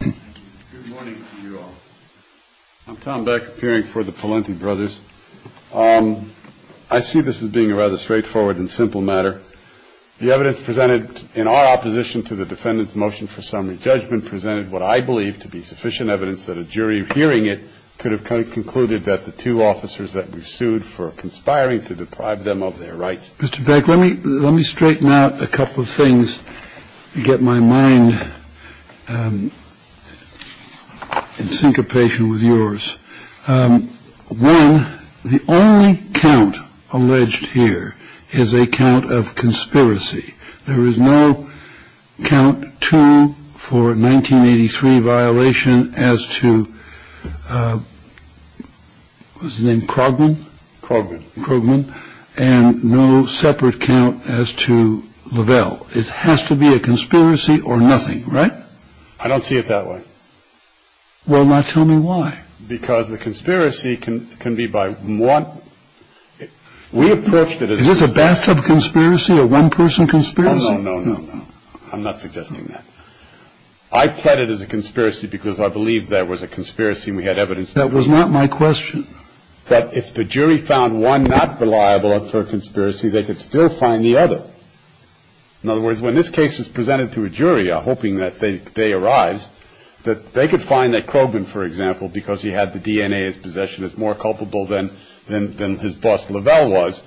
Good morning to you all. I'm Tom Beck, appearing for the Pelenty Brothers. I see this as being a rather straightforward and simple matter. The evidence presented in our opposition to the defendant's motion for summary judgment presented what I believe to be sufficient evidence that a jury hearing it could have concluded that the two officers that we've sued for conspiring to deprive them of their rights. Mr. Beck, let me let me straighten out a couple of things to get my mind in syncopation with yours. One, the only count alleged here is a count of conspiracy. There is no count two for 1983 violation as to what's his name, Krogman? Krogman. Krogman, and no separate count as to Lavelle. It has to be a conspiracy or nothing, right? I don't see it that way. Well, now tell me why. Because the conspiracy can be by one. We approached it as a. Is this a bathtub conspiracy, a one-person conspiracy? No, no, no, no. I'm not suggesting that. I pled it as a conspiracy because I believe there was a conspiracy and we had evidence. That was not my question. That if the jury found one not reliable for a conspiracy, they could still find the other. In other words, when this case is presented to a jury, hoping that they they arise, that they could find that Krogman, for example, because he had the DNA, his possession is more culpable than than than his boss Lavelle was.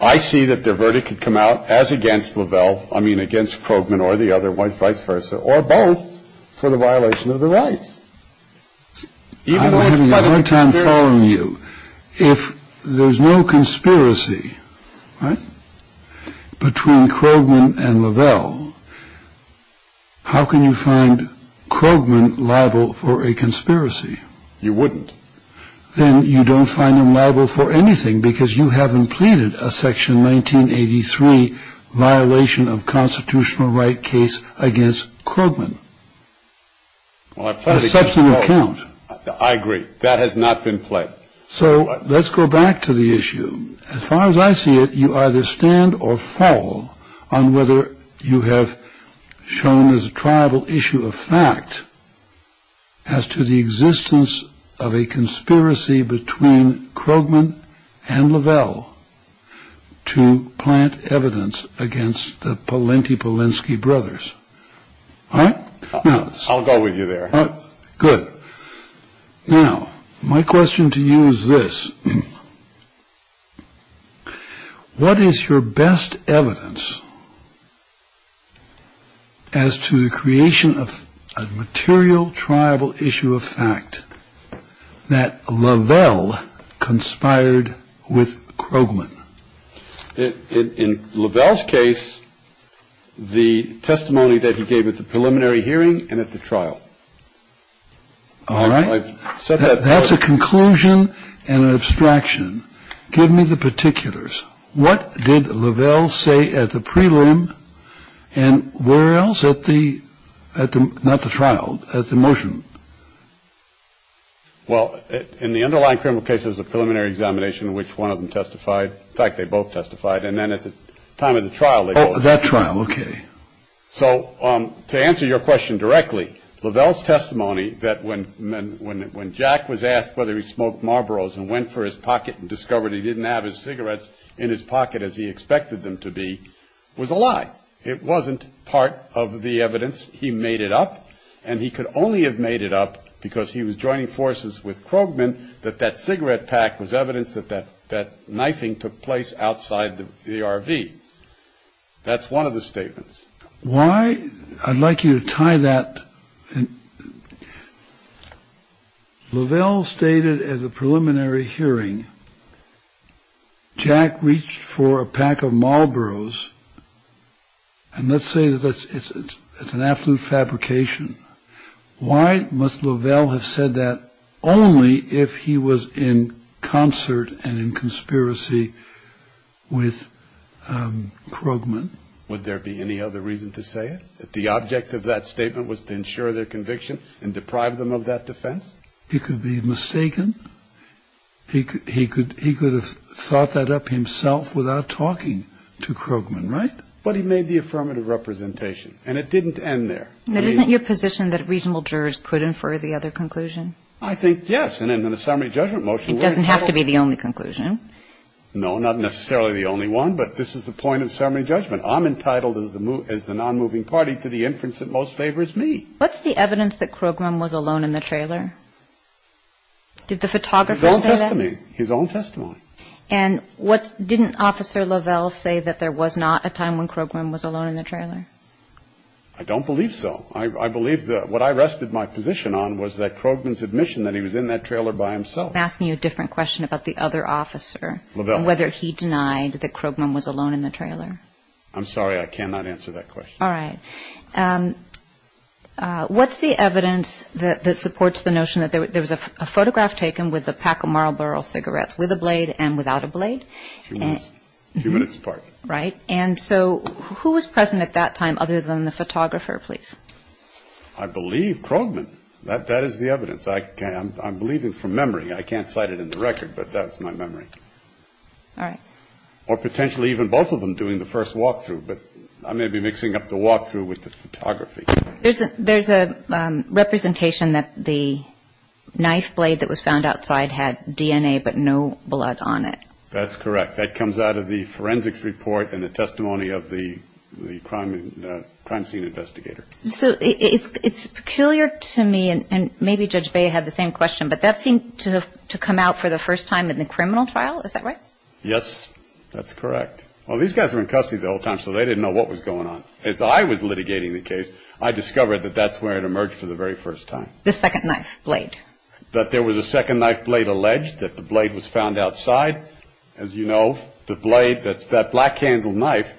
I see that the verdict could come out as against Lavelle. I mean, against Krogman or the other wife, vice versa, or both for the violation of the rights. Time following you. If there's no conspiracy between Krogman and Lavelle. How can you find Krogman liable for a conspiracy? You wouldn't. Then you don't find them liable for anything because you haven't pleaded a section 1983 violation of constitutional right case against Krogman. Well, I played such an account. I agree. That has not been played. So let's go back to the issue. As far as I see it, you either stand or fall on whether you have shown as a tribal issue of fact. As to the existence of a conspiracy between Krogman and Lavelle to plant evidence against the plenty Polinsky brothers. I'll go with you there. Good. Now, my question to you is this. What is your best evidence as to the creation of a material tribal issue of fact that Lavelle conspired with Krogman? In Lavelle's case, the testimony that he gave at the preliminary hearing and at the trial. All right. So that's a conclusion and an abstraction. Give me the particulars. What did Lavelle say at the prelim and where else at the at the not the trial at the motion? Well, in the underlying criminal cases of preliminary examination, which one of them testified. In fact, they both testified. And then at the time of the trial, that trial. OK. So to answer your question directly, Lavelle's testimony that when men when when Jack was asked whether he smoked Marlboros and went for his pocket and discovered he didn't have his cigarettes in his pocket as he expected them to be was a lie. It wasn't part of the evidence. He made it up. And he could only have made it up because he was joining forces with Krogman, that that cigarette pack was evidence that that that knifing took place outside the RV. That's one of the statements. Why? I'd like you to tie that. Lavelle stated at the preliminary hearing, Jack reached for a pack of Marlboros. And let's say that it's an absolute fabrication. Why must Lavelle have said that only if he was in concert and in conspiracy with Krogman? Would there be any other reason to say that the object of that statement was to ensure their conviction and deprive them of that defense? He could be mistaken. He could have thought that up himself without talking to Krogman, right? But he made the affirmative representation. And it didn't end there. But isn't your position that reasonable jurors could infer the other conclusion? I think yes. And in the summary judgment motion. It doesn't have to be the only conclusion. No, not necessarily the only one. But this is the point of summary judgment. I'm entitled as the non-moving party to the inference that most favors me. What's the evidence that Krogman was alone in the trailer? Did the photographer say that? His own testimony. His own testimony. And didn't Officer Lavelle say that there was not a time when Krogman was alone in the trailer? I don't believe so. I believe that what I rested my position on was that Krogman's admission that he was in that trailer by himself. I'm asking you a different question about the other officer. Lavelle. Whether he denied that Krogman was alone in the trailer. I'm sorry. I cannot answer that question. All right. What's the evidence that supports the notion that there was a photograph taken with a pack of Marlboro cigarettes, with a blade and without a blade? A few minutes apart. Right. And so who was present at that time other than the photographer, please? I believe Krogman. That is the evidence. I'm believing from memory. I can't cite it in the record, but that's my memory. All right. Or potentially even both of them doing the first walkthrough. But I may be mixing up the walkthrough with the photography. There's a representation that the knife blade that was found outside had DNA but no blood on it. That's correct. That comes out of the forensics report and the testimony of the crime scene investigator. So it's peculiar to me, and maybe Judge Bea had the same question, but that seemed to come out for the first time in the criminal trial. Is that right? Yes, that's correct. Well, these guys were in custody the whole time, so they didn't know what was going on. As I was litigating the case, I discovered that that's where it emerged for the very first time. The second knife blade. That there was a second knife blade alleged, that the blade was found outside. As you know, the blade, that's that black-handled knife.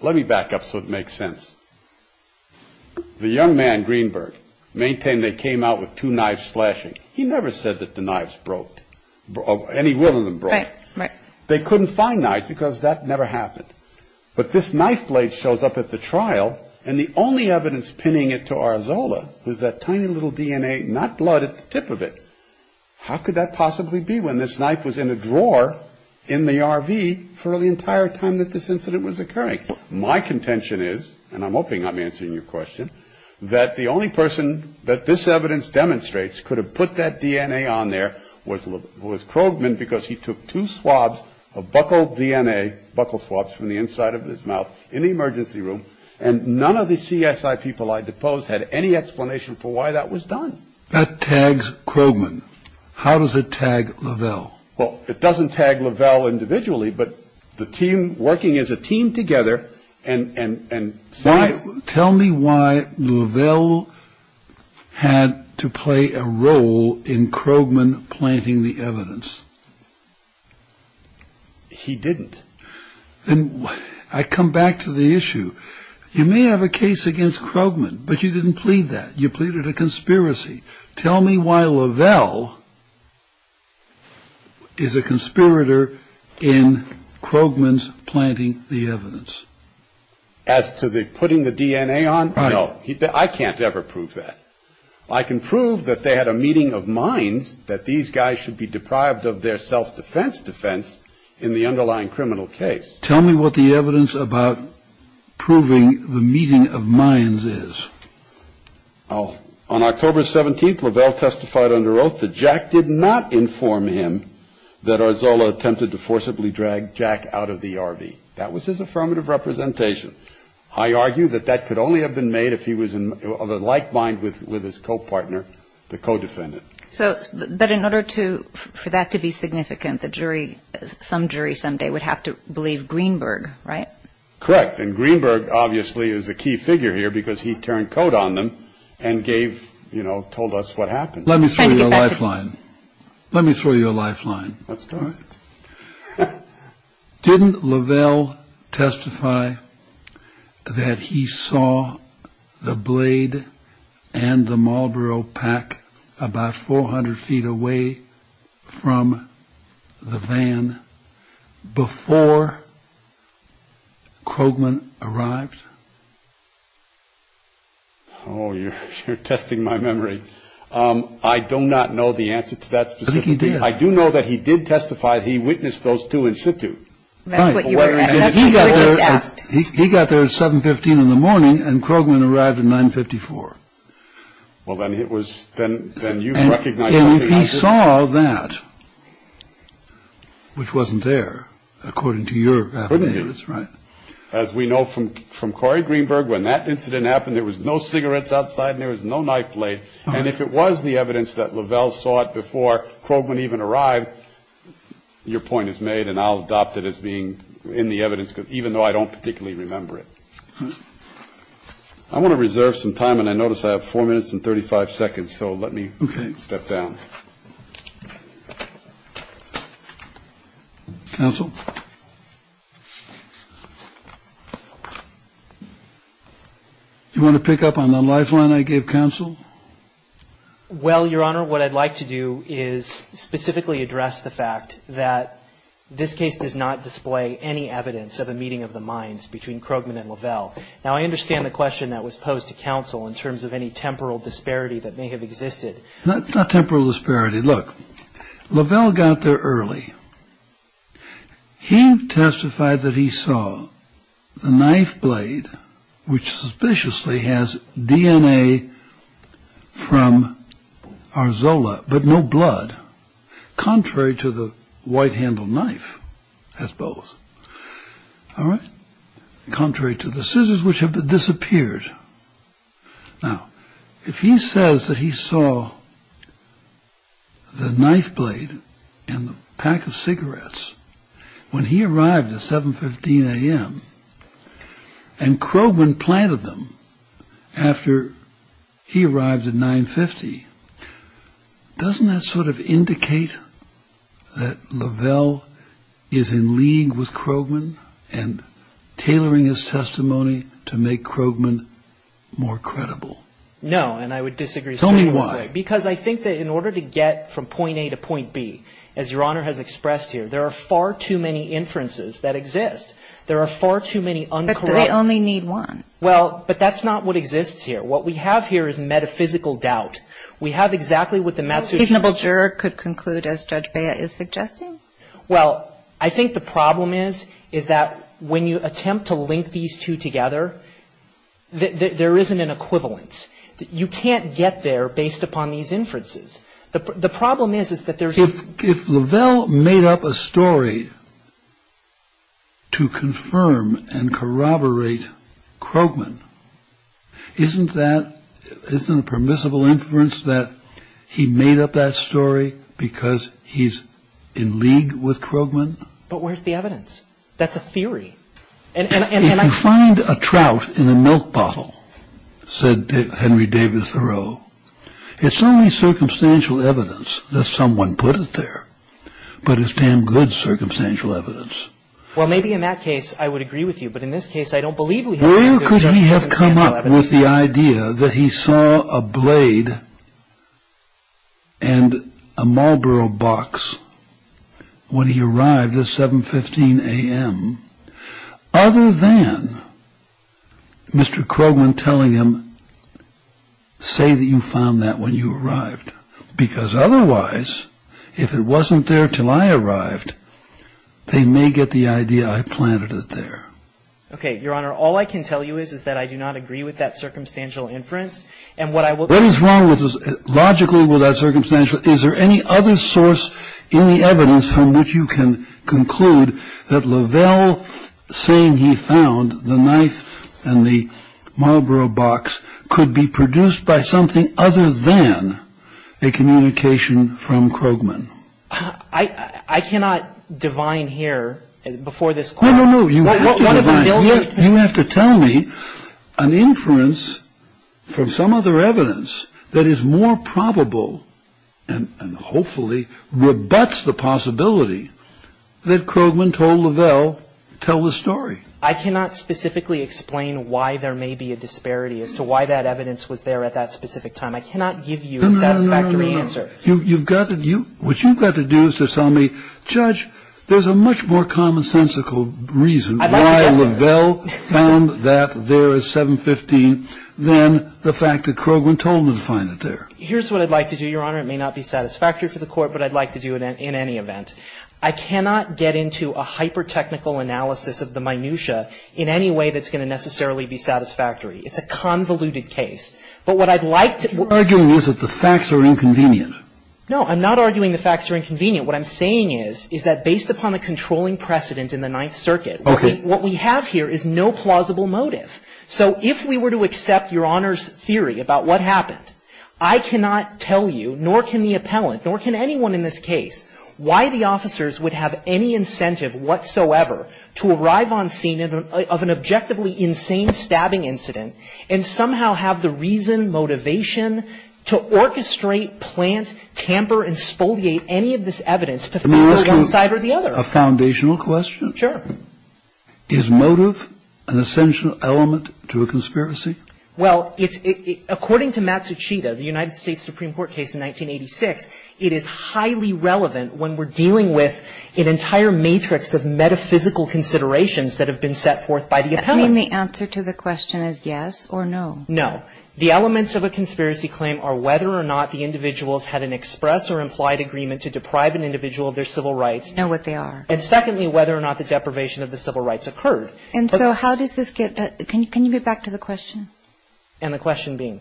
Let me back up so it makes sense. The young man, Greenberg, maintained they came out with two knives slashing. He never said that the knives broke, any one of them broke. They couldn't find knives because that never happened. But this knife blade shows up at the trial, and the only evidence pinning it to Arzola was that tiny little DNA, not blood, at the tip of it. How could that possibly be when this knife was in a drawer in the RV for the entire time that this incident was occurring? My contention is, and I'm hoping I'm answering your question, that the only person that this evidence demonstrates could have put that DNA on there was Krogman, because he took two swabs of buccal DNA, buccal swabs from the inside of his mouth, in the emergency room, and none of the CSI people I deposed had any explanation for why that was done. That tags Krogman. How does it tag Lavelle? Well, it doesn't tag Lavelle individually, but the team working as a team together and... Tell me why Lavelle had to play a role in Krogman planting the evidence. He didn't. Then I come back to the issue. You may have a case against Krogman, but you didn't plead that. You pleaded a conspiracy. Tell me why Lavelle is a conspirator in Krogman's planting the evidence. As to the putting the DNA on? No. I can't ever prove that. I can prove that they had a meeting of minds, that these guys should be deprived of their self-defense defense in the underlying criminal case. Tell me what the evidence about proving the meeting of minds is. On October 17th, Lavelle testified under oath that Jack did not inform him that Arzola attempted to forcibly drag Jack out of the RV. That was his affirmative representation. I argue that that could only have been made if he was of a like mind with his co-partner, the co-defendant. But in order for that to be significant, some jury someday would have to believe Greenberg, right? Correct. And Greenberg obviously is a key figure here because he turned coat on them and told us what happened. Let me throw you a lifeline. Let me throw you a lifeline. Let's do it. Didn't Lavelle testify that he saw the blade and the Marlboro pack about 400 feet away from the van before Krogman arrived? Oh, you're testing my memory. I do not know the answer to that specifically. I think he did. I do know that he did testify. He witnessed those two in situ. Right. He got there at 7.15 in the morning and Krogman arrived at 9.54. Well, then it was then you recognize something. And if he saw that, which wasn't there, according to your affidavits, right? As we know from Corey Greenberg, when that incident happened, there was no cigarettes outside and there was no knife blade. And if it was the evidence that Lavelle saw it before Krogman even arrived, your point is made. And I'll adopt it as being in the evidence, even though I don't particularly remember it. I want to reserve some time. And I notice I have four minutes and 35 seconds. So let me step down. Counsel? You want to pick up on the lifeline I gave counsel? Well, Your Honor, what I'd like to do is specifically address the fact that this case does not display any evidence of a meeting of the minds between Krogman and Lavelle. Now, I understand the question that was posed to counsel in terms of any temporal disparity that may have existed. Not temporal disparity. Look, Lavelle got there early. He testified that he saw the knife blade, which suspiciously has DNA from our Zola, but no blood. Contrary to the white handle knife, I suppose. All right. Contrary to the scissors, which have disappeared. Now, if he says that he saw the knife blade and the pack of cigarettes when he arrived at 715 a.m. And Krogman planted them after he arrived at 950. Doesn't that sort of indicate that Lavelle is in league with Krogman and tailoring his testimony to make Krogman more credible? No, and I would disagree. Tell me why. Because I think that in order to get from point A to point B, as Your Honor has expressed here, there are far too many inferences that exist. There are far too many uncorrupted. But they only need one. Well, but that's not what exists here. What we have here is metaphysical doubt. We have exactly what the maths is. A reasonable juror could conclude, as Judge Bea is suggesting. Well, I think the problem is, is that when you attempt to link these two together, there isn't an equivalence. You can't get there based upon these inferences. The problem is, is that there's. If Lavelle made up a story to confirm and corroborate Krogman, isn't that, isn't it permissible inference that he made up that story because he's in league with Krogman? But where's the evidence? That's a theory. And I. If you find a trout in a milk bottle, said Henry Davis Thoreau, it's only circumstantial evidence that someone put it there. But it's damn good circumstantial evidence. Well, maybe in that case I would agree with you. But in this case, I don't believe we have. Where could he have come up with the idea that he saw a blade and a Marlboro box when he arrived at 715 a.m.? Other than Mr. Krogman telling him, say that you found that when you arrived. Because otherwise, if it wasn't there till I arrived, they may get the idea I planted it there. Okay, Your Honor. All I can tell you is, is that I do not agree with that circumstantial inference. And what I will. What is wrong with this? Logically with that circumstantial. Is there any other source in the evidence from which you can conclude that Lavelle, saying he found the knife and the Marlboro box, could be produced by something other than a communication from Krogman? I cannot divine here before this Court. No, no, no. You have to divine. You have to tell me an inference from some other evidence that is more probable and hopefully rebuts the possibility that Krogman told Lavelle, tell the story. I cannot specifically explain why there may be a disparity as to why that evidence was there at that specific time. I cannot give you a satisfactory answer. You've got to do, what you've got to do is to tell me, Judge, there's a much more commonsensical reason why Lavelle found that there is 715 than the fact that Krogman told him to find it there. Here's what I'd like to do, Your Honor. It may not be satisfactory for the Court, but I'd like to do it in any event. I cannot get into a hyper-technical analysis of the minutia in any way that's going to necessarily be satisfactory. It's a convoluted case. But what I'd like to What you're arguing is that the facts are inconvenient. No, I'm not arguing the facts are inconvenient. What I'm saying is, is that based upon the controlling precedent in the Ninth Circuit, what we have here is no plausible motive. So if we were to accept Your Honor's theory about what happened, I cannot tell you, nor can the appellant, nor can anyone in this case, why the officers would have any incentive whatsoever to arrive on scene of an objectively insane stabbing incident and somehow have the reason, motivation to orchestrate, plant, tamper, and spoliate any of this evidence to favor one side or the other. Can I ask you a foundational question? Sure. Is motive an essential element to a conspiracy? Well, it's – according to Matsushita, the United States Supreme Court case in 1986, it is highly relevant when we're dealing with an entire matrix of metaphysical considerations that have been set forth by the appellant. Do you mean the answer to the question is yes or no? No. The elements of a conspiracy claim are whether or not the individuals had an express or implied agreement to deprive an individual of their civil rights. Know what they are. And secondly, whether or not the deprivation of the civil rights occurred. And so how does this get – can you get back to the question? And the question being?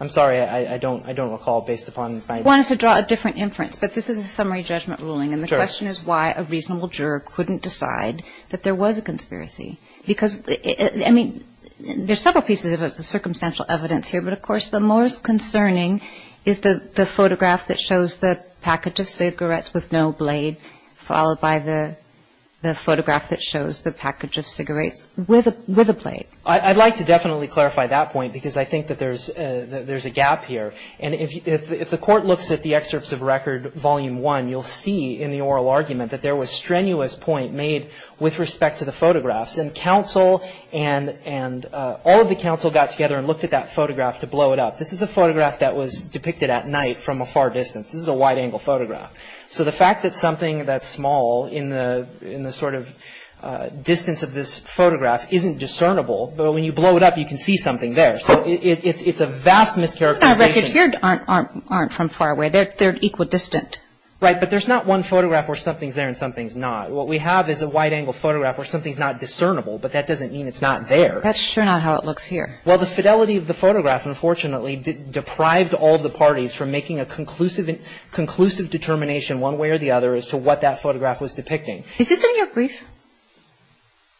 I'm sorry. I don't recall based upon my – You want us to draw a different inference, but this is a summary judgment ruling. Sure. And the question is why a reasonable juror couldn't decide that there was a conspiracy. Because, I mean, there's several pieces of circumstantial evidence here. But, of course, the most concerning is the photograph that shows the package of cigarettes with no blade, followed by the photograph that shows the package of cigarettes with a blade. I'd like to definitely clarify that point because I think that there's a gap here. And if the court looks at the excerpts of record volume one, you'll see in the oral argument that there was strenuous point made with respect to the photographs. And counsel and – all of the counsel got together and looked at that photograph to blow it up. This is a photograph that was depicted at night from a far distance. This is a wide-angle photograph. So the fact that something that's small in the sort of distance of this photograph isn't discernible, but when you blow it up, you can see something there. So it's a vast mischaracterization. The records here aren't from far away. They're equidistant. Right. But there's not one photograph where something's there and something's not. What we have is a wide-angle photograph where something's not discernible, but that doesn't mean it's not there. That's sure not how it looks here. Well, the fidelity of the photograph, unfortunately, deprived all the parties from making a conclusive determination one way or the other as to what that photograph was depicting. Is this in your brief?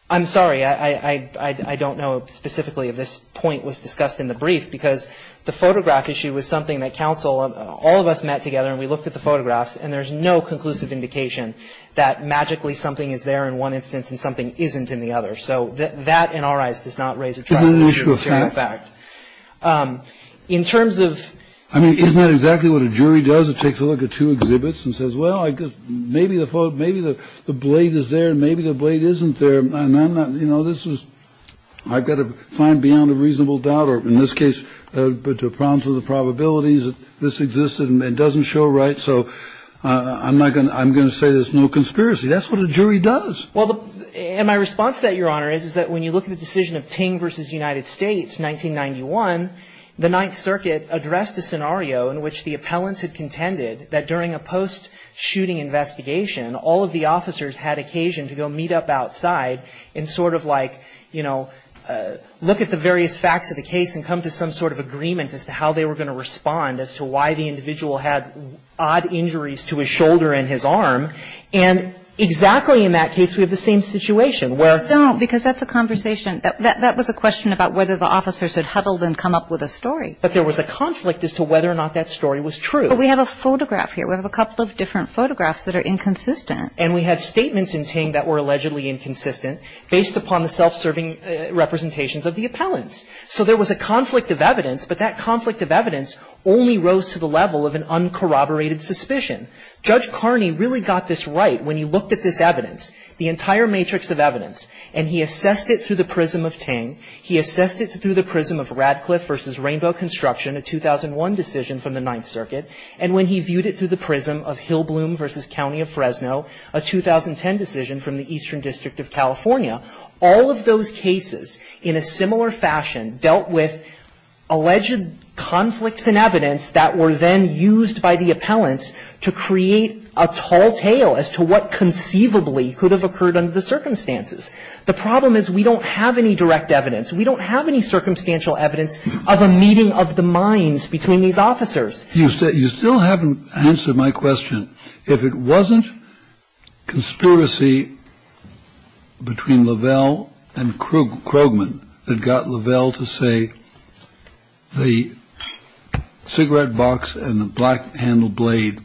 I'm sorry. I don't know specifically if this point was discussed in the brief because the photograph issue was something that counsel and all of us met together and we looked at the photographs and there's no conclusive indication that magically something is there in one instance and something isn't in the other. So that, in our eyes, does not raise a tributary issue. Isn't that an issue of fact? It's an issue of fact. In terms of... I mean, isn't that exactly what a jury does? It takes a look at two exhibits and says, well, maybe the blade is there and maybe the blade isn't there. And I'm not, you know, this is... I've got to find beyond a reasonable doubt or, in this case, to prompt to the probabilities that this existed and it doesn't show right. So I'm not going to... I'm going to say there's no conspiracy. That's what a jury does. Well, and my response to that, Your Honor, is that when you look at the decision of Ting v. United States, 1991, the Ninth Circuit addressed a scenario in which the appellants had contended that during a post-shooting investigation, all of the officers had occasion to go meet up outside and sort of like, you know, look at the various facts of the case and come to some sort of agreement as to how they were going to respond as to why the individual had odd injuries to his shoulder and his arm. And exactly in that case, we have the same situation where... No, because that's a conversation. That was a question about whether the officers had huddled and come up with a story. But there was a conflict as to whether or not that story was true. But we have a photograph here. We have a couple of different photographs that are inconsistent. And we have statements in Ting that were allegedly inconsistent, based upon the self-serving representations of the appellants. So there was a conflict of evidence, but that conflict of evidence only rose to the level of an uncorroborated suspicion. Judge Carney really got this right when he looked at this evidence, the entire matrix of evidence, and he assessed it through the prism of Ting. He assessed it through the prism of Radcliffe v. Rainbow Construction, a 2001 decision from the Ninth Circuit. And when he viewed it through the prism of Hillbloom v. County of Fresno, a 2010 decision from the Eastern District of California, all of those cases in a similar fashion dealt with alleged conflicts in evidence that were then used by the appellants to create a tall tale as to what conceivably could have occurred under the circumstances. The problem is we don't have any direct evidence. We don't have any circumstantial evidence of a meeting of the minds between these officers. You still haven't answered my question. If it wasn't conspiracy between Lavelle and Krogman that got Lavelle to say the cigarette box and the black-handled blade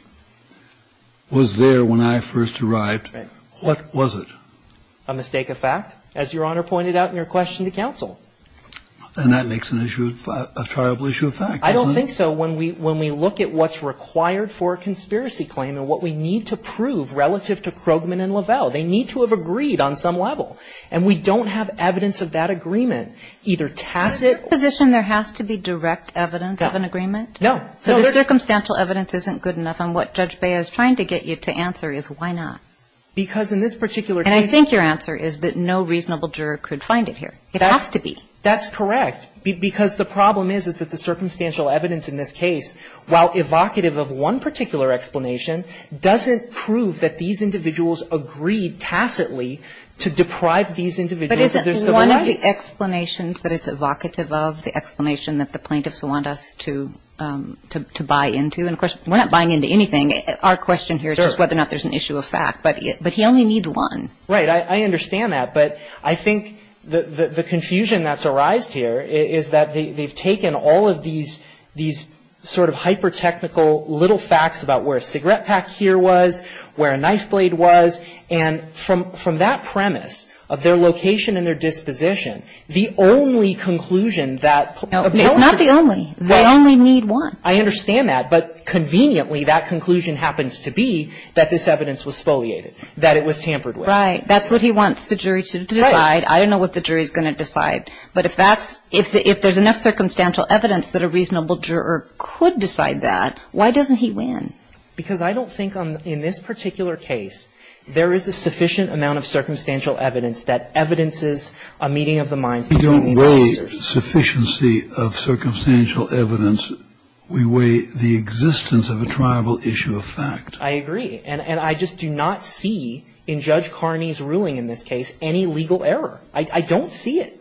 was there when I first arrived, what was it? A mistake of fact, as Your Honor pointed out in your question to counsel. And that makes an issue of fact, a triable issue of fact, doesn't it? I don't think so. When we look at what's required for a conspiracy claim and what we need to prove relative to Krogman and Lavelle, they need to have agreed on some level. And we don't have evidence of that agreement, either tacit or direct. Is your position there has to be direct evidence of an agreement? No. So the circumstantial evidence isn't good enough? And what Judge Bea is trying to get you to answer is why not? Because in this particular case And I think your answer is that no reasonable juror could find it here. It has to be. That's correct. Because the problem is, is that the circumstantial evidence in this case, while evocative of one particular explanation, doesn't prove that these individuals agreed tacitly to deprive these individuals of their civil rights. But isn't one of the explanations that it's evocative of the explanation that the plaintiffs want us to buy into? And, of course, we're not buying into anything. Our question here is whether or not there's an issue of fact. But he only needs one. Right. I understand that. But I think the confusion that's arised here is that they've taken all of these sort of hyper-technical little facts about where a cigarette pack here was, where a knife blade was, and from that premise of their location and their disposition, the only conclusion that appeals to them. No. It's not the only. They only need one. I understand that. But conveniently, that conclusion happens to be that this evidence was spoliated, that it was tampered with. Right. That's what he wants the jury to decide. Right. I don't know what the jury's going to decide. But if there's enough circumstantial evidence that a reasonable juror could decide that, why doesn't he win? Because I don't think in this particular case there is a sufficient amount of circumstantial evidence that evidences a meeting of the minds of these officers. We don't weigh sufficiency of circumstantial evidence. We weigh the existence of a triable issue of fact. I agree. And I just do not see in Judge Carney's ruling in this case any legal error. I don't see it.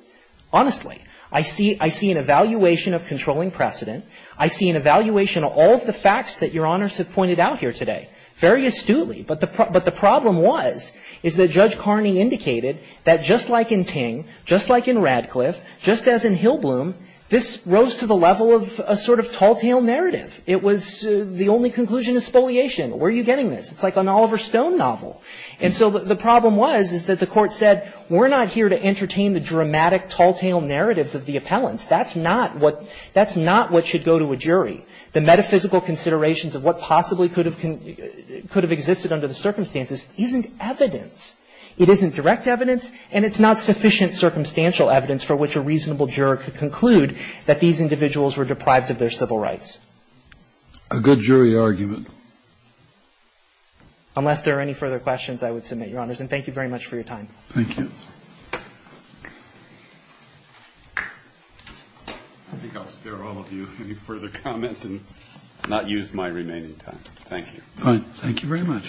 Honestly. I see an evaluation of controlling precedent. I see an evaluation of all of the facts that Your Honors have pointed out here today. Very astutely. But the problem was, is that Judge Carney indicated that just like in Ting, just like in Radcliffe, just as in Hillbloom, this rose to the level of a sort of tall-tale narrative. It was the only conclusion is spoliation. Where are you getting this? It's like an Oliver Stone novel. And so the problem was, is that the Court said we're not here to entertain the dramatic tall-tale narratives of the appellants. That's not what should go to a jury. The metaphysical considerations of what possibly could have existed under the circumstances isn't evidence. It isn't direct evidence, and it's not sufficient circumstantial evidence for which a reasonable juror could conclude that these individuals were deprived of their civil rights. A good jury argument. Unless there are any further questions, I would submit, Your Honors. And thank you very much for your time. Thank you. I think I'll spare all of you any further comment and not use my remaining time. Thank you. Thank you very much.